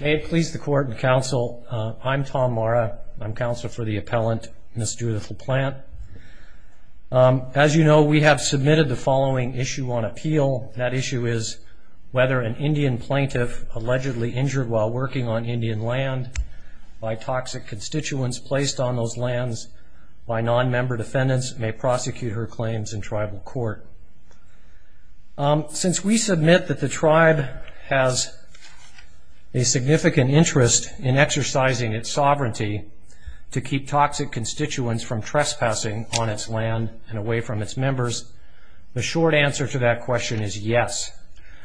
May it please the Court and Counsel, I'm Tom Marra. I'm Counsel for the Appellant, Ms. Judith LaPlante. As you know, we have submitted the following issue on appeal. That issue is whether an Indian plaintiff allegedly injured while working on Indian land by toxic constituents placed on those lands by nonmember defendants may prosecute her claims in tribal court. Since we submit that the tribe has a significant interest in exercising its sovereignty to keep toxic constituents from trespassing on its land and away from its members, the short answer to that question is yes.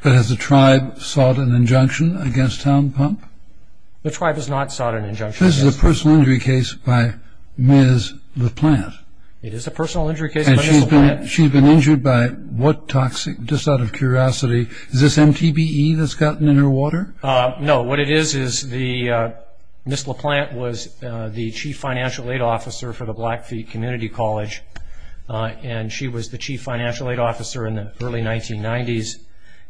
But has the tribe sought an injunction against Tom Pump? The tribe has not sought an injunction. This is a personal injury case by Ms. LaPlante. It is a personal injury case by Ms. LaPlante. She's been injured by what toxic, just out of curiosity, is this MTBE that's gotten in her water? No, what it is is Ms. LaPlante was the Chief Financial Aid Officer for the Blackfeet Community College and she was the Chief Financial Aid Officer in the early 1990s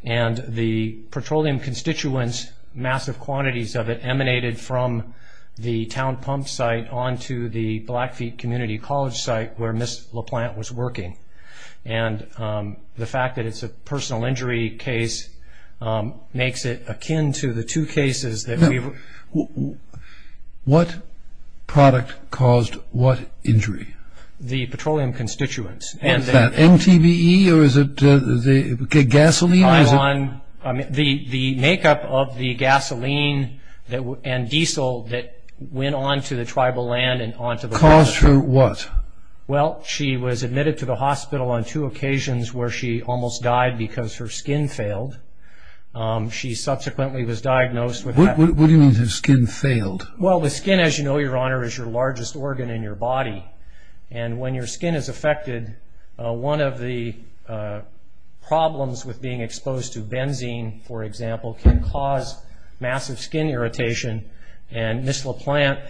and the petroleum constituents, massive quantities of it, were eliminated from the town pump site onto the Blackfeet Community College site where Ms. LaPlante was working. And the fact that it's a personal injury case makes it akin to the two cases that we've... What product caused what injury? The petroleum constituents. Was that MTBE or is it gasoline? The makeup of the gasoline and diesel that went onto the tribal land and onto the... Caused her what? Well, she was admitted to the hospital on two occasions where she almost died because her skin failed. She subsequently was diagnosed with... What do you mean her skin failed? Well, the skin, as you know, Your Honor, is your largest organ in your body and when your skin is affected, one of the problems with being exposed to benzene, for example, can cause massive skin irritation and Ms. LaPlante,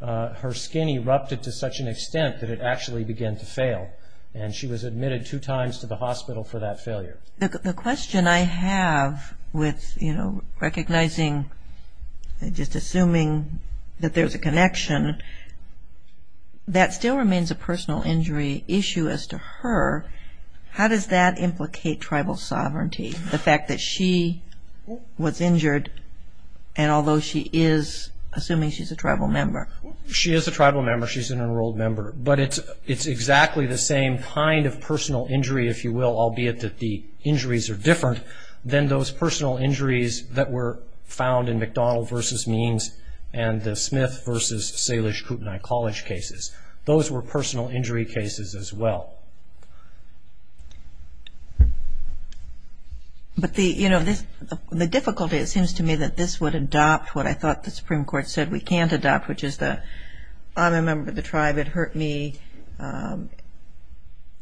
her skin erupted to such an extent that it actually began to fail and she was admitted two times to the hospital for that failure. The question I have with, you know, recognizing, just assuming that there's a connection, that still remains a personal injury issue as to her. How does that implicate tribal sovereignty, the fact that she was injured and although she is, assuming she's a tribal member? She is a tribal member. She's an enrolled member. But it's exactly the same kind of personal injury, if you will, albeit that the injuries are different than those personal injuries that were found in McDonald v. Means and the Smith v. Salish Kootenai College cases. Those were personal injury cases as well. But the, you know, the difficulty, it seems to me, that this would adopt what I thought the Supreme Court said we can't adopt, which is that I'm a member of the tribe, it hurt me,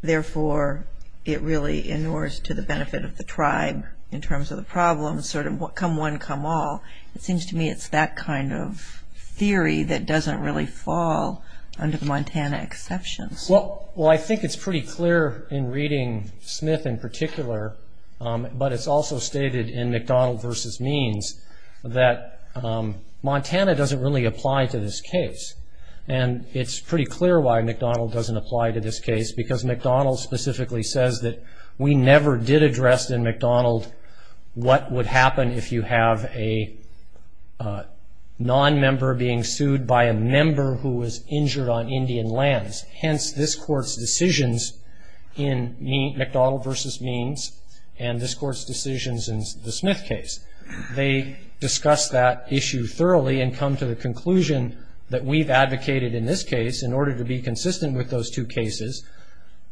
therefore it really inures to the benefit of the tribe in terms of the problem, sort of come one, come all. It seems to me it's that kind of theory that doesn't really fall under the Montana exceptions. Well, I think it's pretty clear in reading Smith in particular, but it's also stated in McDonald v. Means that Montana doesn't really apply to this case. And it's pretty clear why McDonald doesn't apply to this case, because McDonald specifically says that we never did address in McDonald what would happen if you have a nonmember being sued by a member who was injured on Indian lands. Hence, this Court's decisions in McDonald v. Means and this Court's decisions in the Smith case. They discuss that issue thoroughly and come to the conclusion that we've advocated in this case in order to be consistent with those two cases.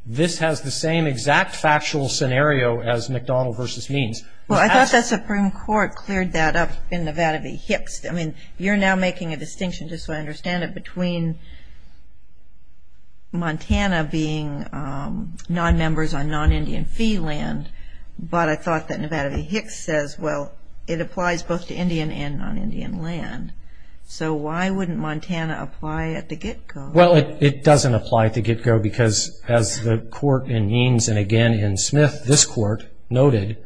This has the same exact factual scenario as McDonald v. Means. Well, I thought the Supreme Court cleared that up in Nevada v. Hicks. I mean, you're now making a distinction, just so I understand it, between Montana being nonmembers on non-Indian fee land, but I thought that Nevada v. Hicks says, well, it applies both to Indian and non-Indian land. So why wouldn't Montana apply at the get-go? Well, it doesn't apply at the get-go, because as the Court in Means and again in Smith, this Court, noted,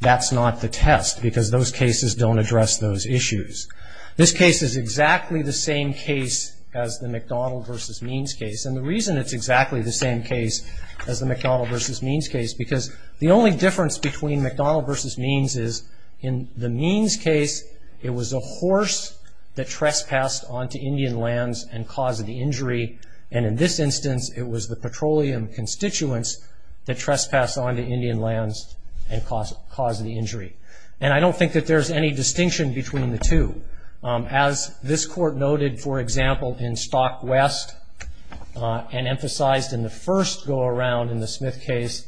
that's not the test, because those cases don't address those issues. This case is exactly the same case as the McDonald v. Means case, and the reason it's exactly the same case as the McDonald v. Means case is because the only difference between McDonald v. Means is in the Means case, it was a horse that trespassed onto Indian lands and caused the injury, and in this instance, it was the petroleum constituents that trespassed onto Indian lands and caused the injury. And I don't think that there's any distinction between the two. As this Court noted, for example, in Stock West, and emphasized in the first go-around in the Smith case,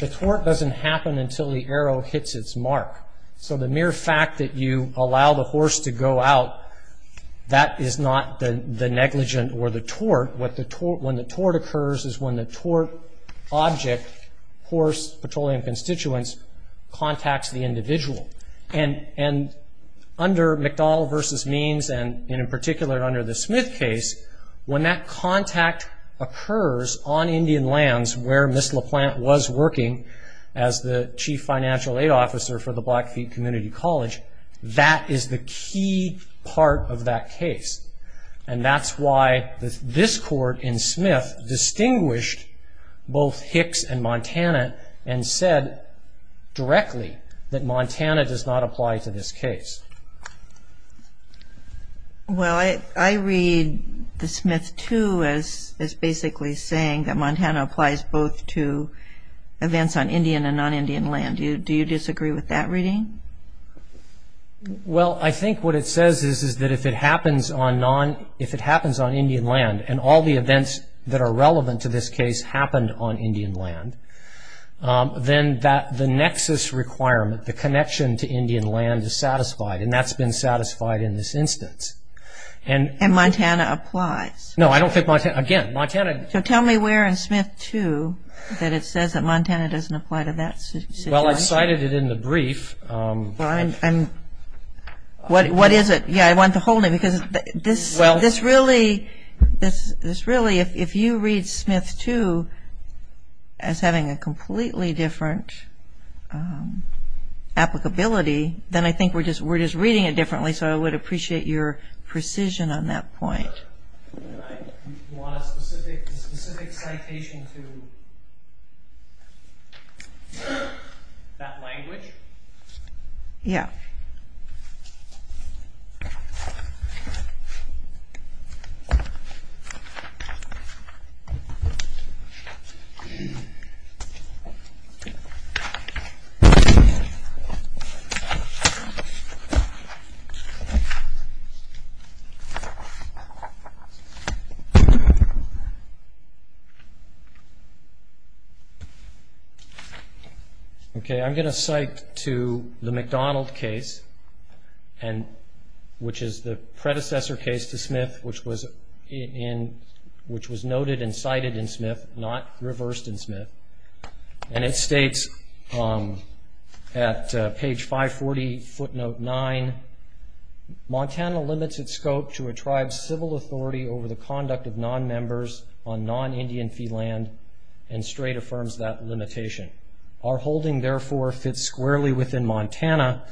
the tort doesn't happen until the arrow hits its mark. So the mere fact that you allow the horse to go out, that is not the negligent or the tort. When the tort occurs is when the tort object, horse, petroleum constituents, contacts the individual. And under McDonald v. Means, and in particular under the Smith case, when that contact occurs on Indian lands where Ms. LaPlante was working as the Chief Financial Aid Officer for the Blackfeet Community College, that is the key part of that case. And that's why this Court in Smith distinguished both Hicks and Montana and said directly that Montana does not apply to this case. Well, I read the Smith too as basically saying that Montana applies both to events on Indian and non-Indian land. Do you disagree with that reading? Well, I think what it says is that if it happens on Indian land, and all the events that are relevant to this case happened on Indian land, then the nexus requirement, the connection to Indian land is satisfied, and that's been satisfied in this instance. And Montana applies. No, I don't think Montana, again, Montana... So tell me where in Smith too that it says that Montana doesn't apply to that situation. Well, I cited it in the brief. What is it? Yeah, I wanted to hold it because this really, if you read Smith too as having a completely different applicability, then I think we're just reading it differently, so I would appreciate your precision on that point. You want a specific citation to that language? Yeah. Okay. I'm going to cite to the McDonald case, which is the predecessor case to Smith, which was noted and cited in Smith, not reversed in Smith, and it states at page 540, footnote 9, Montana limits its scope to a tribe's civil authority over the conduct of non-members on non-Indian fee land and straight affirms that limitation. Our holding, therefore, fits squarely within Montana,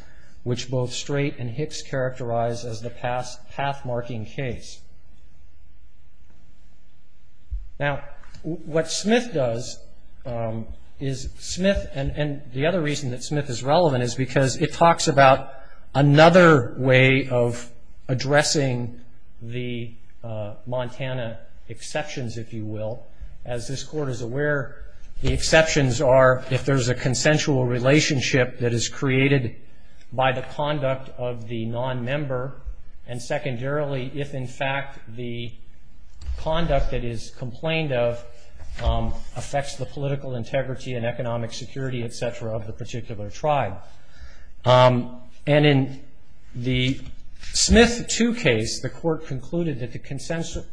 which both Straight and Hicks characterize as the path-marking case. Now, what Smith does is Smith, and the other reason that Smith is relevant is because it talks about another way of addressing the Montana exceptions, if you will. As this Court is aware, the exceptions are if there's a consensual relationship that is created by the conduct of the non-member, and secondarily, if in fact the conduct that is complained of affects the political integrity and economic security, et cetera, of the particular tribe. And in the Smith 2 case, the Court concluded that the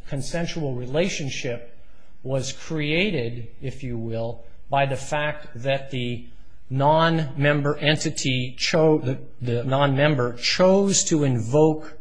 consensual relationship was created, if you will, by the fact that the non-member chose to invoke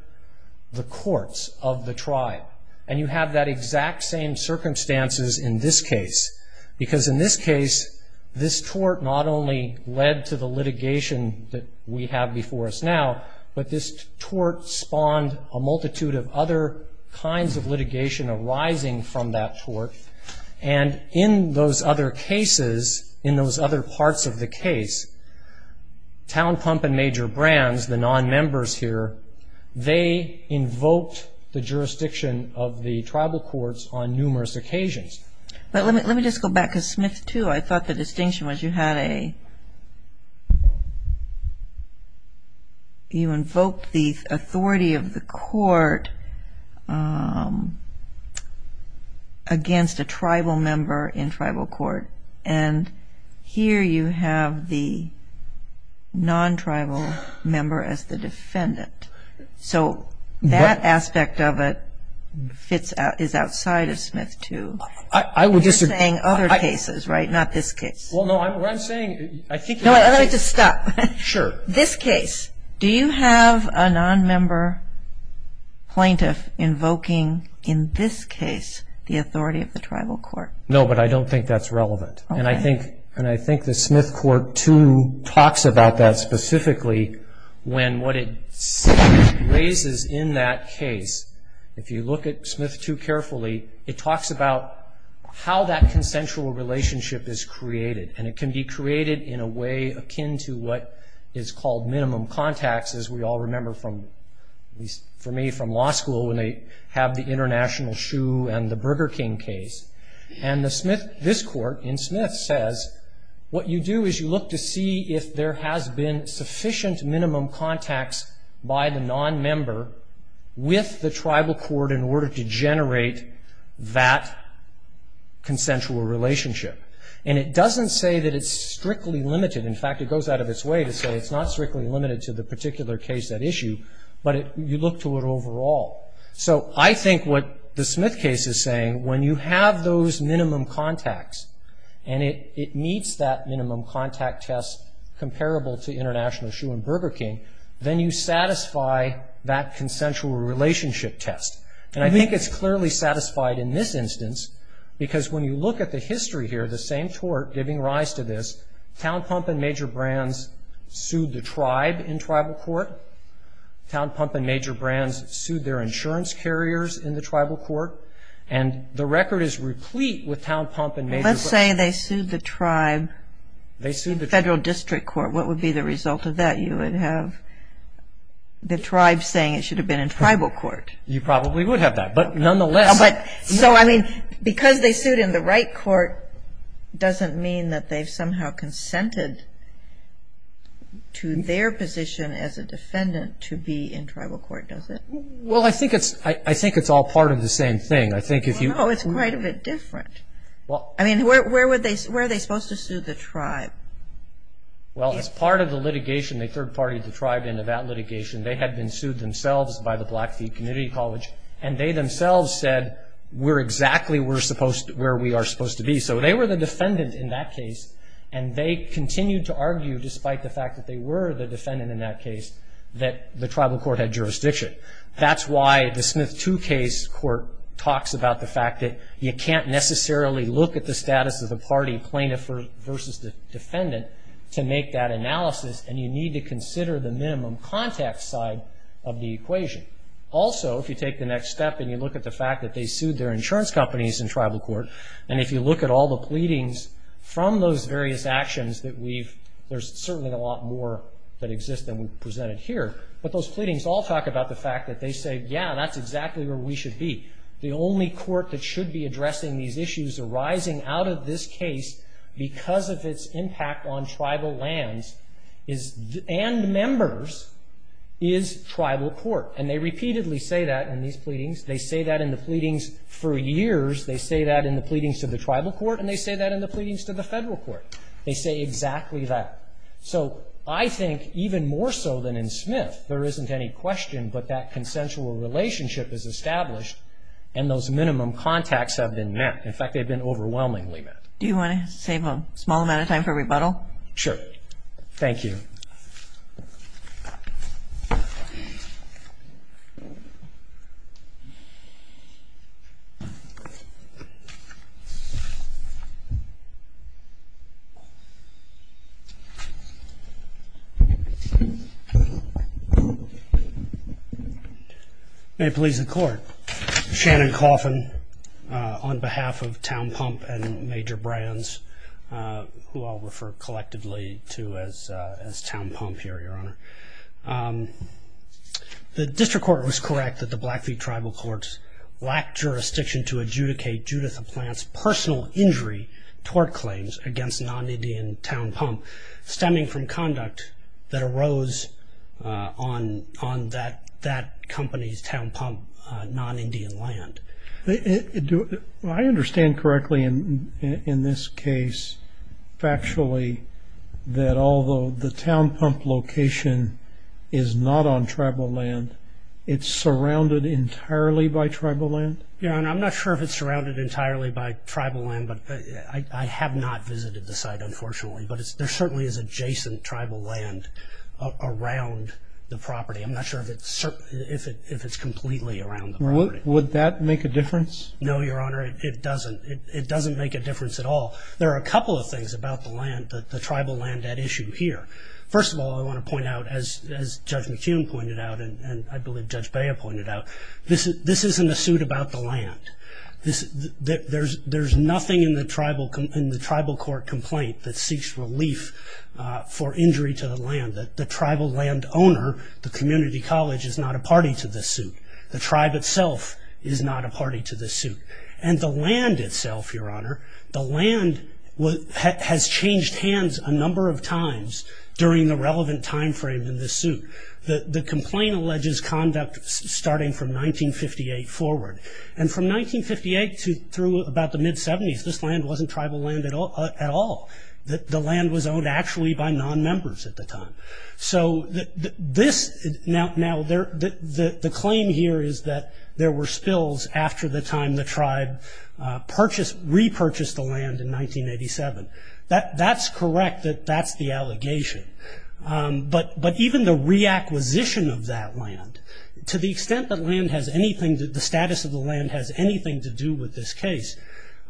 the courts of the tribe, and you have that exact same circumstances in this case, because in this case, this tort not only led to the litigation that we have before us now, but this tort spawned a multitude of other kinds of litigation arising from that tort, and in those other cases, in those other parts of the case, Town Pump and Major Brands, the non-members here, they invoked the jurisdiction of the tribal courts on numerous occasions. But let me just go back, because Smith 2, I thought the distinction was you had a, you invoked the authority of the court against a tribal member in tribal court, and here you have the non-tribal member as the defendant. So that aspect of it is outside of Smith 2. You're saying other cases, right, not this case. Well, no, what I'm saying, I think... No, I'd like to stop. Sure. This case, do you have a non-member plaintiff invoking, in this case, the authority of the tribal court? No, but I don't think that's relevant. Okay. I think, and I think the Smith Court 2 talks about that specifically when what it raises in that case, if you look at Smith 2 carefully, it talks about how that consensual relationship is created, and it can be created in a way akin to what is called minimum contacts, as we all remember from, at least for me, from law school, when they have the International Shoe and the Burger King case. And the Smith, this court in Smith says, what you do is you look to see if there has been sufficient minimum contacts by the non-member with the tribal court in order to generate that consensual relationship. And it doesn't say that it's strictly limited. In fact, it goes out of its way to say it's not strictly limited to the particular case at issue, but you look to it overall. So I think what the Smith case is saying, when you have those minimum contacts and it meets that minimum contact test comparable to International Shoe and Burger King, then you satisfy that consensual relationship test. And I think it's clearly satisfied in this instance, because when you look at the history here, the same tort giving rise to this, Town Pump and Major Brands sued the tribe in tribal court. Town Pump and Major Brands sued their insurance carriers in the tribal court. And the record is replete with Town Pump and Major Brands. Let's say they sued the tribe in federal district court. What would be the result of that? You would have the tribe saying it should have been in tribal court. You probably would have that. But nonetheless. So, I mean, because they sued in the right court doesn't mean that they've somehow consented to their position as a defendant to be in tribal court, does it? Well, I think it's all part of the same thing. No, it's quite a bit different. I mean, where are they supposed to sue the tribe? Well, as part of the litigation, they third-partied the tribe into that litigation. They had been sued themselves by the Blackfeet Community College. And they themselves said, we're exactly where we are supposed to be. So they were the defendant in that case. And they continued to argue, despite the fact that they were the defendant in that case, that the tribal court had jurisdiction. That's why the Smith 2 case court talks about the fact that you can't necessarily look at the status of the party plaintiff versus the defendant to make that analysis. And you need to consider the minimum context side of the equation. Also, if you take the next step and you look at the fact that they sued their insurance companies in tribal court, and if you look at all the pleadings from those various actions that we've ‑‑ there's certainly a lot more that exists than we've presented here. But those pleadings all talk about the fact that they say, yeah, that's exactly where we should be. The only court that should be addressing these issues arising out of this case because of its impact on tribal lands and members is tribal court. And they repeatedly say that in these pleadings. They say that in the pleadings for years. They say that in the pleadings to the tribal court. And they say that in the pleadings to the federal court. They say exactly that. So I think even more so than in Smith, there isn't any question but that consensual relationship is established and those minimum contacts have been met. In fact, they've been overwhelmingly met. Do you want to save a small amount of time for rebuttal? Sure. Thank you. Thank you. May it please the court. Shannon Coffin on behalf of Town Pump and Major Brands, who I'll refer collectively to as Town Pump here, Your Honor. The district court was correct that the Blackfeet tribal courts lacked jurisdiction to adjudicate Judith Applant's personal injury tort claims against non‑Indian Town Pump, stemming from conduct that arose on that company's Town Pump non‑Indian land. Do I understand correctly in this case factually that although the Town Pump location is not on tribal land, it's surrounded entirely by tribal land? Your Honor, I'm not sure if it's surrounded entirely by tribal land, but I have not visited the site, unfortunately, but there certainly is adjacent tribal land around the property. I'm not sure if it's completely around the property. Would that make a difference? No, Your Honor, it doesn't. It doesn't make a difference at all. There are a couple of things about the land, the tribal land at issue here. First of all, I want to point out, as Judge McCune pointed out There's nothing in the tribal court complaint that seeks relief for injury to the land. The tribal land owner, the community college, is not a party to this suit. The tribe itself is not a party to this suit. The land itself, Your Honor, the land has changed hands a number of times during the relevant time frame in this suit. The complaint alleges conduct starting from 1958 forward. From 1958 through about the mid-'70s, this land wasn't tribal land at all. The land was owned actually by non-members at the time. The claim here is that there were spills after the time the tribe repurchased the land in 1987. That's correct that that's the allegation, but even the reacquisition of that land, to the extent that the status of the land has anything to do with this case,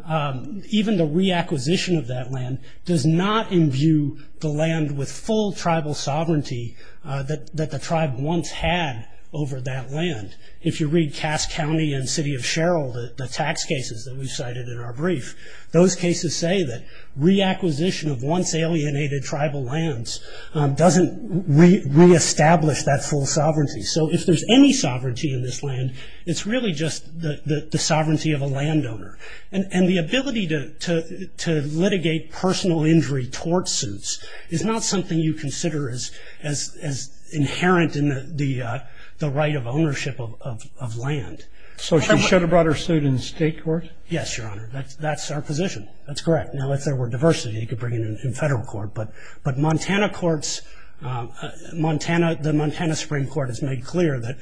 even the reacquisition of that land does not imbue the land with full tribal sovereignty that the tribe once had over that land. If you read Cass County and City of Cheryl, the tax cases that we cited in our brief, those cases say that reacquisition of once alienated tribal lands doesn't reestablish that full sovereignty. So if there's any sovereignty in this land, it's really just the sovereignty of a landowner. And the ability to litigate personal injury towards suits is not something you consider as inherent in the right of ownership of land. So she should have brought her suit in state court? Yes, Your Honor. That's our position. That's correct. Now, if there were diversity, you could bring it in federal court, but the Montana Supreme Court has made clear that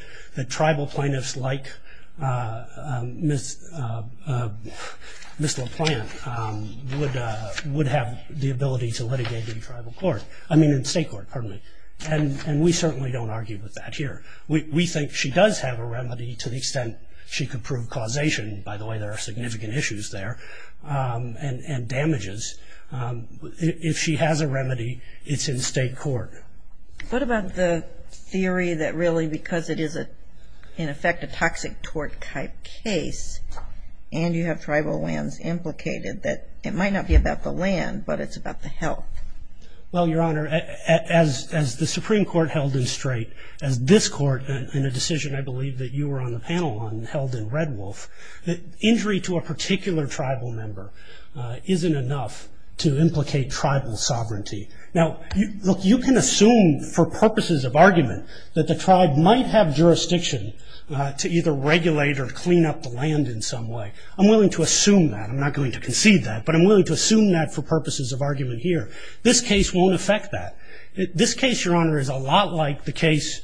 tribal plaintiffs like Ms. LaPlante would have the ability to litigate in state court. And we certainly don't argue with that here. We think she does have a remedy to the extent she could prove causation. By the way, there are significant issues there and damages. If she has a remedy, it's in state court. What about the theory that really because it is, in effect, a toxic tort type case and you have tribal lands implicated that it might not be about the land, but it's about the health? Well, Your Honor, as the Supreme Court held in Strait, as this Court in a decision I believe that you were on the panel on held in Red Wolf, that injury to a particular tribal member isn't enough to implicate tribal sovereignty. Now, look, you can assume for purposes of argument that the tribe might have jurisdiction to either regulate or clean up the land in some way. I'm willing to assume that. I'm not going to concede that, but I'm willing to assume that for purposes of argument here. This case won't affect that. This case, Your Honor, is a lot like the case,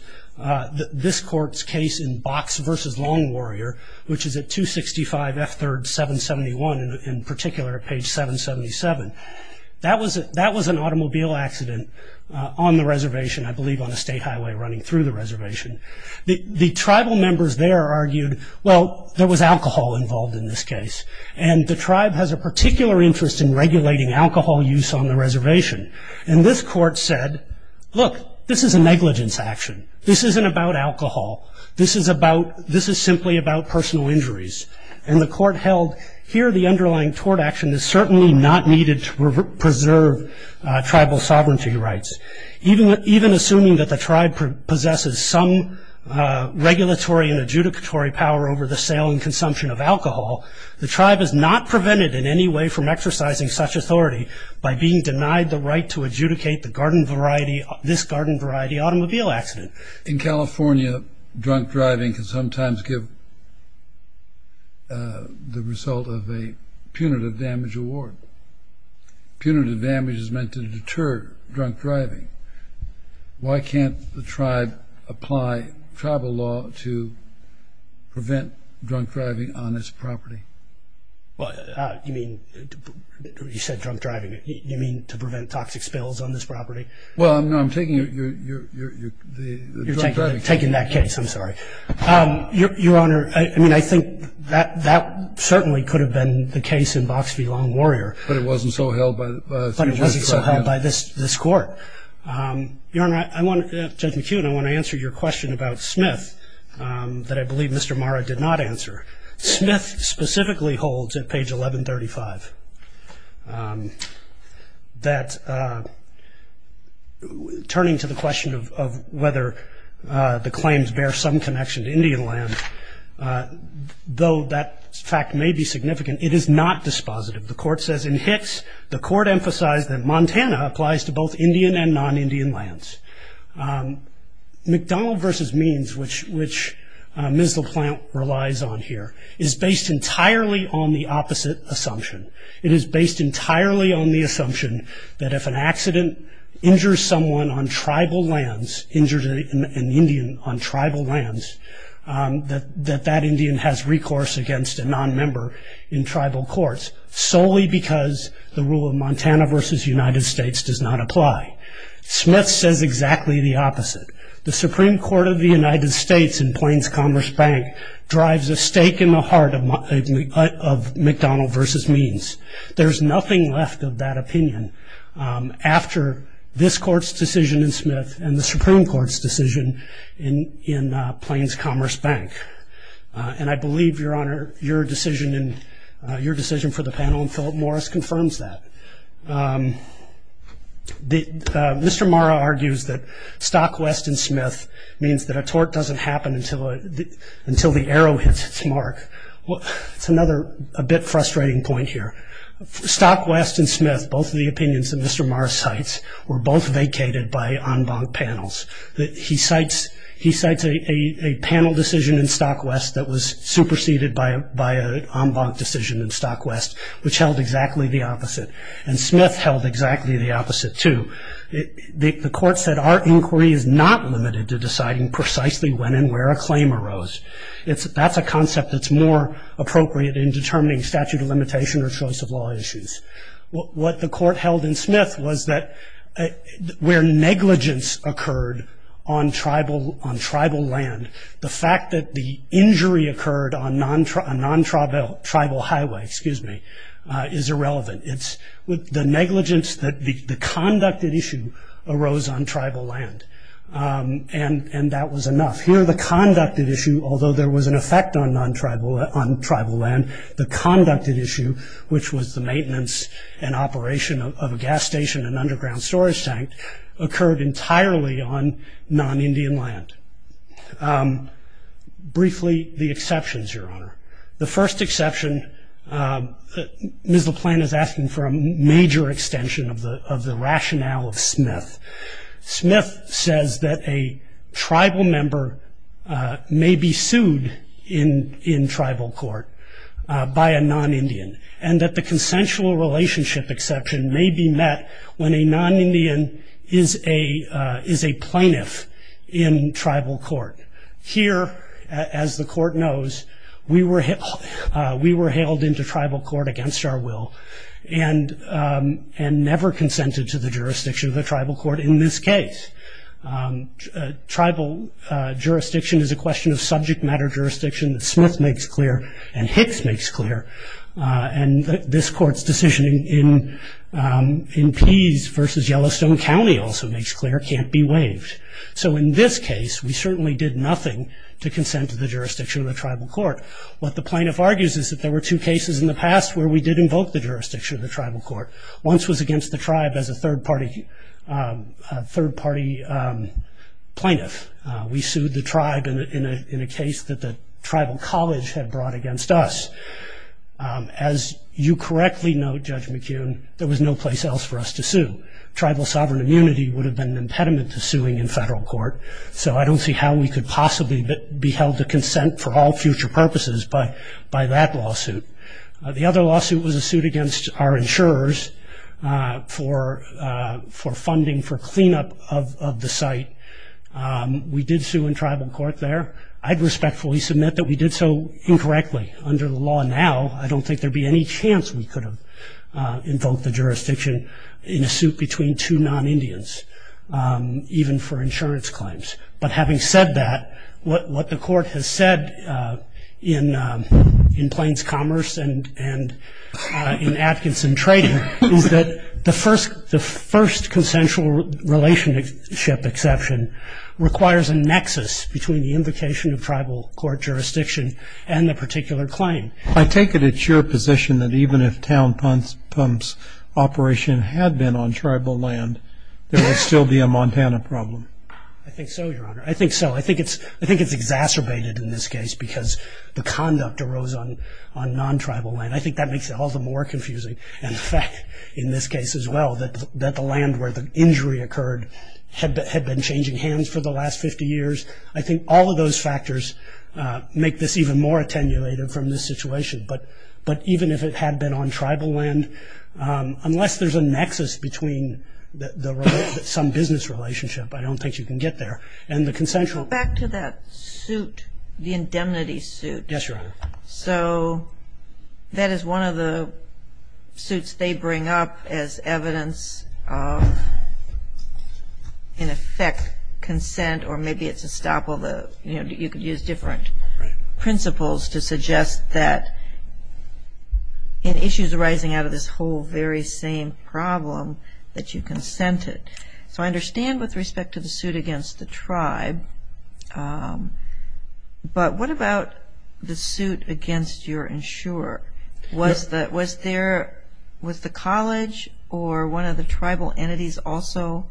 this Court's case in Box v. Long Warrior, which is at 265 F. 3rd, 771, in particular at page 777. That was an automobile accident on the reservation, I believe, on a state highway running through the reservation. The tribal members there argued, well, there was alcohol involved in this case, and the tribe has a particular interest in regulating alcohol use on the reservation. And this Court said, look, this is a negligence action. This isn't about alcohol. This is simply about personal injuries. And the Court held here the underlying tort action is certainly not needed to preserve tribal sovereignty rights. Even assuming that the tribe possesses some regulatory and adjudicatory power over the sale and consumption of alcohol, the tribe is not prevented in any way from exercising such authority by being denied the right to adjudicate this garden variety automobile accident. In California, drunk driving can sometimes give the result of a punitive damage award. Punitive damage is meant to deter drunk driving. Why can't the tribe apply tribal law to prevent drunk driving on its property? You said drunk driving. You mean to prevent toxic spills on this property? Well, no, I'm taking your drunk driving case. You're taking that case. I'm sorry. Your Honor, I mean, I think that certainly could have been the case in Box v. Long Warrior. But it wasn't so held by this Court. But it wasn't so held by this Court. Your Honor, Judge McKeown, I want to answer your question about Smith that I believe Mr. Marra did not answer. Smith specifically holds at page 1135 that turning to the question of whether the claims bear some connection to Indian land, though that fact may be significant, it is not dispositive. The Court says in Hicks, the Court emphasized that Montana applies to both Indian and non-Indian lands. McDonald v. Means, which Ms. LaPlante relies on here, is based entirely on the opposite assumption. It is based entirely on the assumption that if an accident injures someone on tribal lands, injures an Indian on tribal lands, that that Indian has recourse against a nonmember in tribal courts, solely because the rule of Montana v. United States does not apply. Smith says exactly the opposite. The Supreme Court of the United States in Plains Commerce Bank drives a stake in the heart of McDonald v. Means. There's nothing left of that opinion after this Court's decision in Smith and the Supreme Court's decision in Plains Commerce Bank. And I believe, Your Honor, your decision for the panel and Philip Morris confirms that. Mr. Marra argues that Stockwest and Smith means that a tort doesn't happen until the arrow hits its mark. It's another a bit frustrating point here. Stockwest and Smith, both of the opinions that Mr. Marra cites, were both vacated by en banc panels. He cites a panel decision in Stockwest that was superseded by an en banc decision in Stockwest, which held exactly the opposite. And Smith held exactly the opposite, too. The Court said our inquiry is not limited to deciding precisely when and where a claim arose. That's a concept that's more appropriate in determining statute of limitation or choice of law issues. What the Court held in Smith was that where negligence occurred on tribal land, the fact that the injury occurred on a non-tribal highway is irrelevant. It's with the negligence that the conducted issue arose on tribal land. And that was enough. Here the conducted issue, although there was an effect on tribal land, the conducted issue, which was the maintenance and operation of a gas station and underground storage tank, occurred entirely on non-Indian land. Briefly, the exceptions, Your Honor. The first exception, Ms. LaPlante is asking for a major extension of the rationale of Smith. Smith says that a tribal member may be sued in tribal court by a non-Indian and that the consensual relationship exception may be met when a non-Indian is a plaintiff in tribal court. Here, as the Court knows, we were hailed into tribal court against our will and never consented to the jurisdiction of the tribal court in this case. Tribal jurisdiction is a question of subject matter jurisdiction that Smith makes clear and Hicks makes clear. And this Court's decision in Pease versus Yellowstone County also makes clear can't be waived. So in this case, we certainly did nothing to consent to the jurisdiction of the tribal court. What the plaintiff argues is that there were two cases in the past where we did invoke the jurisdiction of the tribal court. Once was against the tribe as a third party plaintiff. We sued the tribe in a case that the tribal college had brought against us. As you correctly know, Judge McKeown, there was no place else for us to sue. Tribal sovereign immunity would have been an impediment to suing in federal court, so I don't see how we could possibly be held to consent for all future purposes by that lawsuit. The other lawsuit was a suit against our insurers for funding for cleanup of the site. We did sue in tribal court there. I'd respectfully submit that we did so incorrectly. Under the law now, I don't think there would be any chance we could have invoked the jurisdiction in a suit between two non-Indians, even for insurance claims. But having said that, what the Court has said in Plains Commerce and in Atkinson Trading, is that the first consensual relationship exception requires a nexus between the invocation of tribal court jurisdiction and the particular claim. I take it it's your position that even if Town Pump's operation had been on tribal land, there would still be a Montana problem. I think so, Your Honor. I think so. I think it's exacerbated in this case because the conduct arose on non-tribal land. I think that makes it all the more confusing. In fact, in this case as well, that the land where the injury occurred had been changing hands for the last 50 years. I think all of those factors make this even more attenuated from this situation. But even if it had been on tribal land, unless there's a nexus between some business relationship, I don't think you can get there. Go back to that suit, the indemnity suit. Yes, Your Honor. So that is one of the suits they bring up as evidence of, in effect, consent, or maybe it's estoppel. You could use different principles to suggest that in issues arising out of this whole very same problem that you consented. So I understand with respect to the suit against the tribe. But what about the suit against your insurer? Was the college or one of the tribal entities also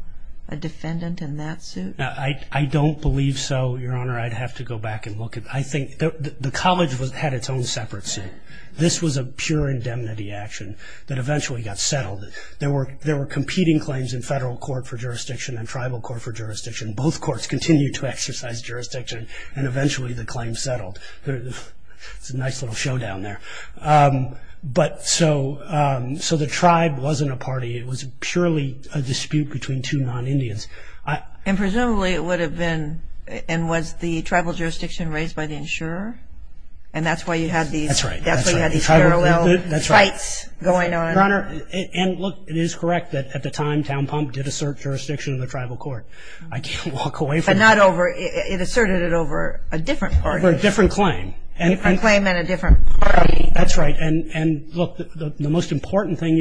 a defendant in that suit? I don't believe so, Your Honor. I'd have to go back and look. I think the college had its own separate suit. This was a pure indemnity action that eventually got settled. There were competing claims in federal court for jurisdiction and tribal court for jurisdiction. Both courts continued to exercise jurisdiction, and eventually the claim settled. It's a nice little showdown there. But so the tribe wasn't a party. It was purely a dispute between two non-Indians. And presumably it would have been, and was the tribal jurisdiction raised by the insurer? And that's why you had these parallel fights going on? That's right. At the time, town pump did assert jurisdiction in the tribal court. I can't walk away from that. It asserted it over a different party. Over a different claim. A different claim and a different party. That's right. And look, the most important thing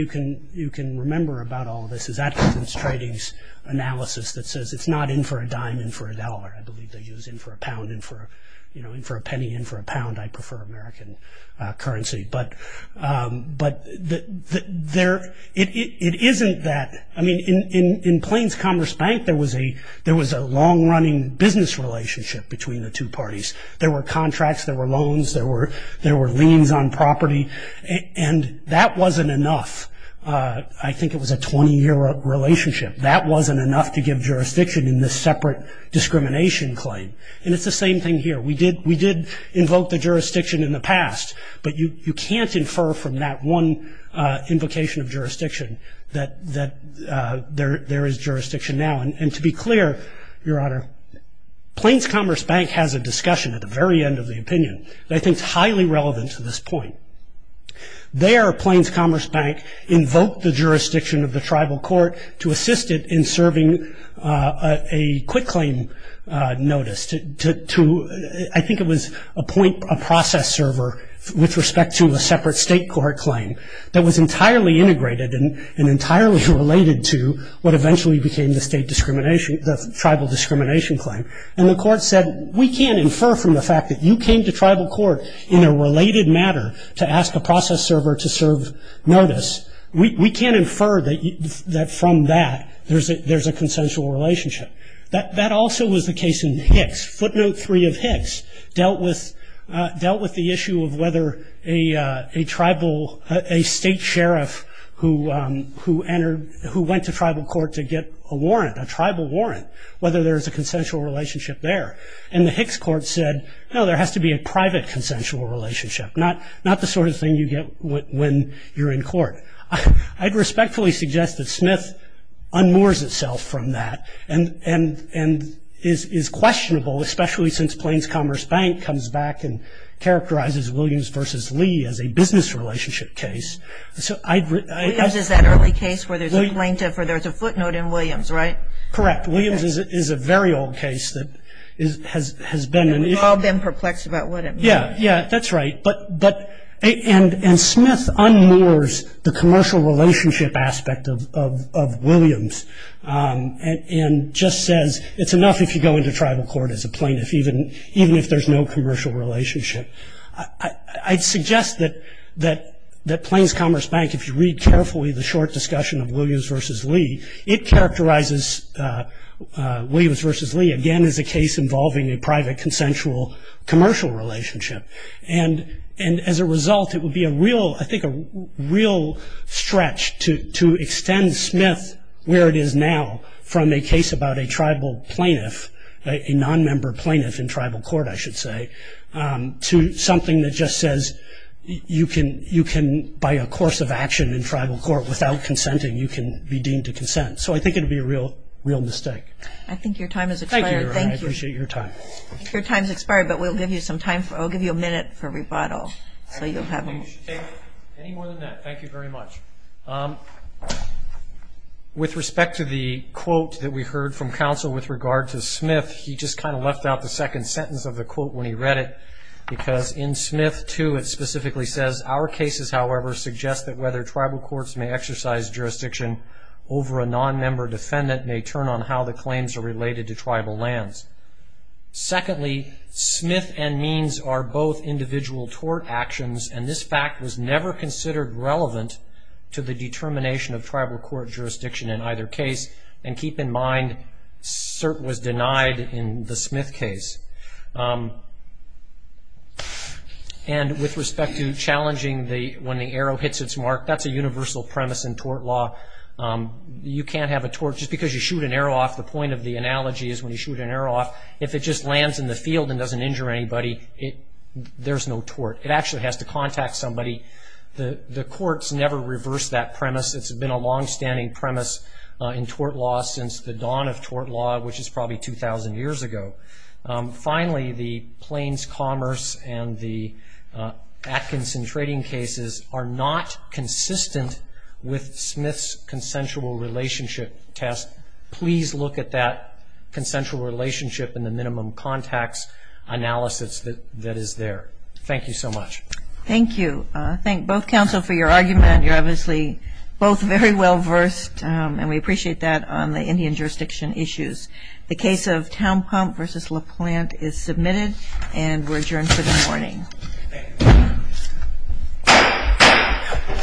you can remember about all of this is that defense trading analysis that says it's not in for a dime, in for a dollar. I believe they use in for a pound, in for a penny, in for a pound. I prefer American currency. But it isn't that. I mean, in Plains Commerce Bank, there was a long-running business relationship between the two parties. There were contracts. There were loans. There were liens on property. And that wasn't enough. I think it was a 20-year relationship. That wasn't enough to give jurisdiction in this separate discrimination claim. And it's the same thing here. We did invoke the jurisdiction in the past, but you can't infer from that one invocation of jurisdiction that there is jurisdiction now. And to be clear, Your Honor, Plains Commerce Bank has a discussion at the very end of the opinion that I think is highly relevant to this point. There, Plains Commerce Bank invoked the jurisdiction of the tribal court to assist it in serving a quick claim notice. I think it was a process server with respect to a separate state court claim that was entirely integrated and entirely related to what eventually became the tribal discrimination claim. And the court said, We can't infer from the fact that you came to tribal court in a related matter to ask a process server to serve notice. We can't infer that from that there's a consensual relationship. That also was the case in Hicks. Footnote 3 of Hicks dealt with the issue of whether a state sheriff who went to tribal court to get a warrant, a tribal warrant, whether there's a consensual relationship there. And the Hicks court said, No, there has to be a private consensual relationship, not the sort of thing you get when you're in court. I'd respectfully suggest that Smith unmoors itself from that and is questionable, especially since Plains Commerce Bank comes back and characterizes Williams v. Lee as a business relationship case. Williams is that early case where there's a footnote in Williams, right? Correct. Williams is a very old case that has been an issue. And we've all been perplexed about what it means. Yeah, that's right. And Smith unmoors the commercial relationship aspect of Williams and just says it's enough if you go into tribal court as a plaintiff, even if there's no commercial relationship. I'd suggest that Plains Commerce Bank, if you read carefully the short discussion of Williams v. Lee, it characterizes Williams v. Lee, again, as a case involving a private consensual commercial relationship. And as a result, it would be, I think, a real stretch to extend Smith where it is now from a case about a tribal plaintiff, a nonmember plaintiff in tribal court, I should say, to something that just says you can, by a course of action in tribal court without consenting, you can be deemed to consent. So I think it would be a real mistake. I think your time has expired. Thank you. I appreciate your time. Your time has expired, but we'll give you some time. I'll give you a minute for rebuttal. Any more than that, thank you very much. With respect to the quote that we heard from counsel with regard to Smith, he just kind of left out the second sentence of the quote when he read it, because in Smith, too, it specifically says, our cases, however, suggest that whether tribal courts may exercise jurisdiction over a nonmember defendant may turn on how the claims are related to tribal lands. Secondly, Smith and Means are both individual tort actions, and this fact was never considered relevant to the determination of tribal court jurisdiction in either case. And keep in mind, cert was denied in the Smith case. And with respect to challenging when the arrow hits its mark, that's a universal premise in tort law. You can't have a tort just because you shoot an arrow off. The point of the analogy is when you shoot an arrow off, if it just lands in the field and doesn't injure anybody, there's no tort. It actually has to contact somebody. The courts never reversed that premise. It's been a longstanding premise in tort law since the dawn of tort law, which is probably 2,000 years ago. Finally, the Plains Commerce and the Atkinson trading cases are not consistent with Smith's consensual relationship test. Please look at that consensual relationship in the minimum contacts analysis that is there. Thank you so much. Thank you. I thank both counsel for your argument. You're obviously both very well versed, and we appreciate that on the Indian jurisdiction issues. The case of Townpump v. LaPlante is submitted, and we're adjourned for the morning. Thank you. Thank you. All rise.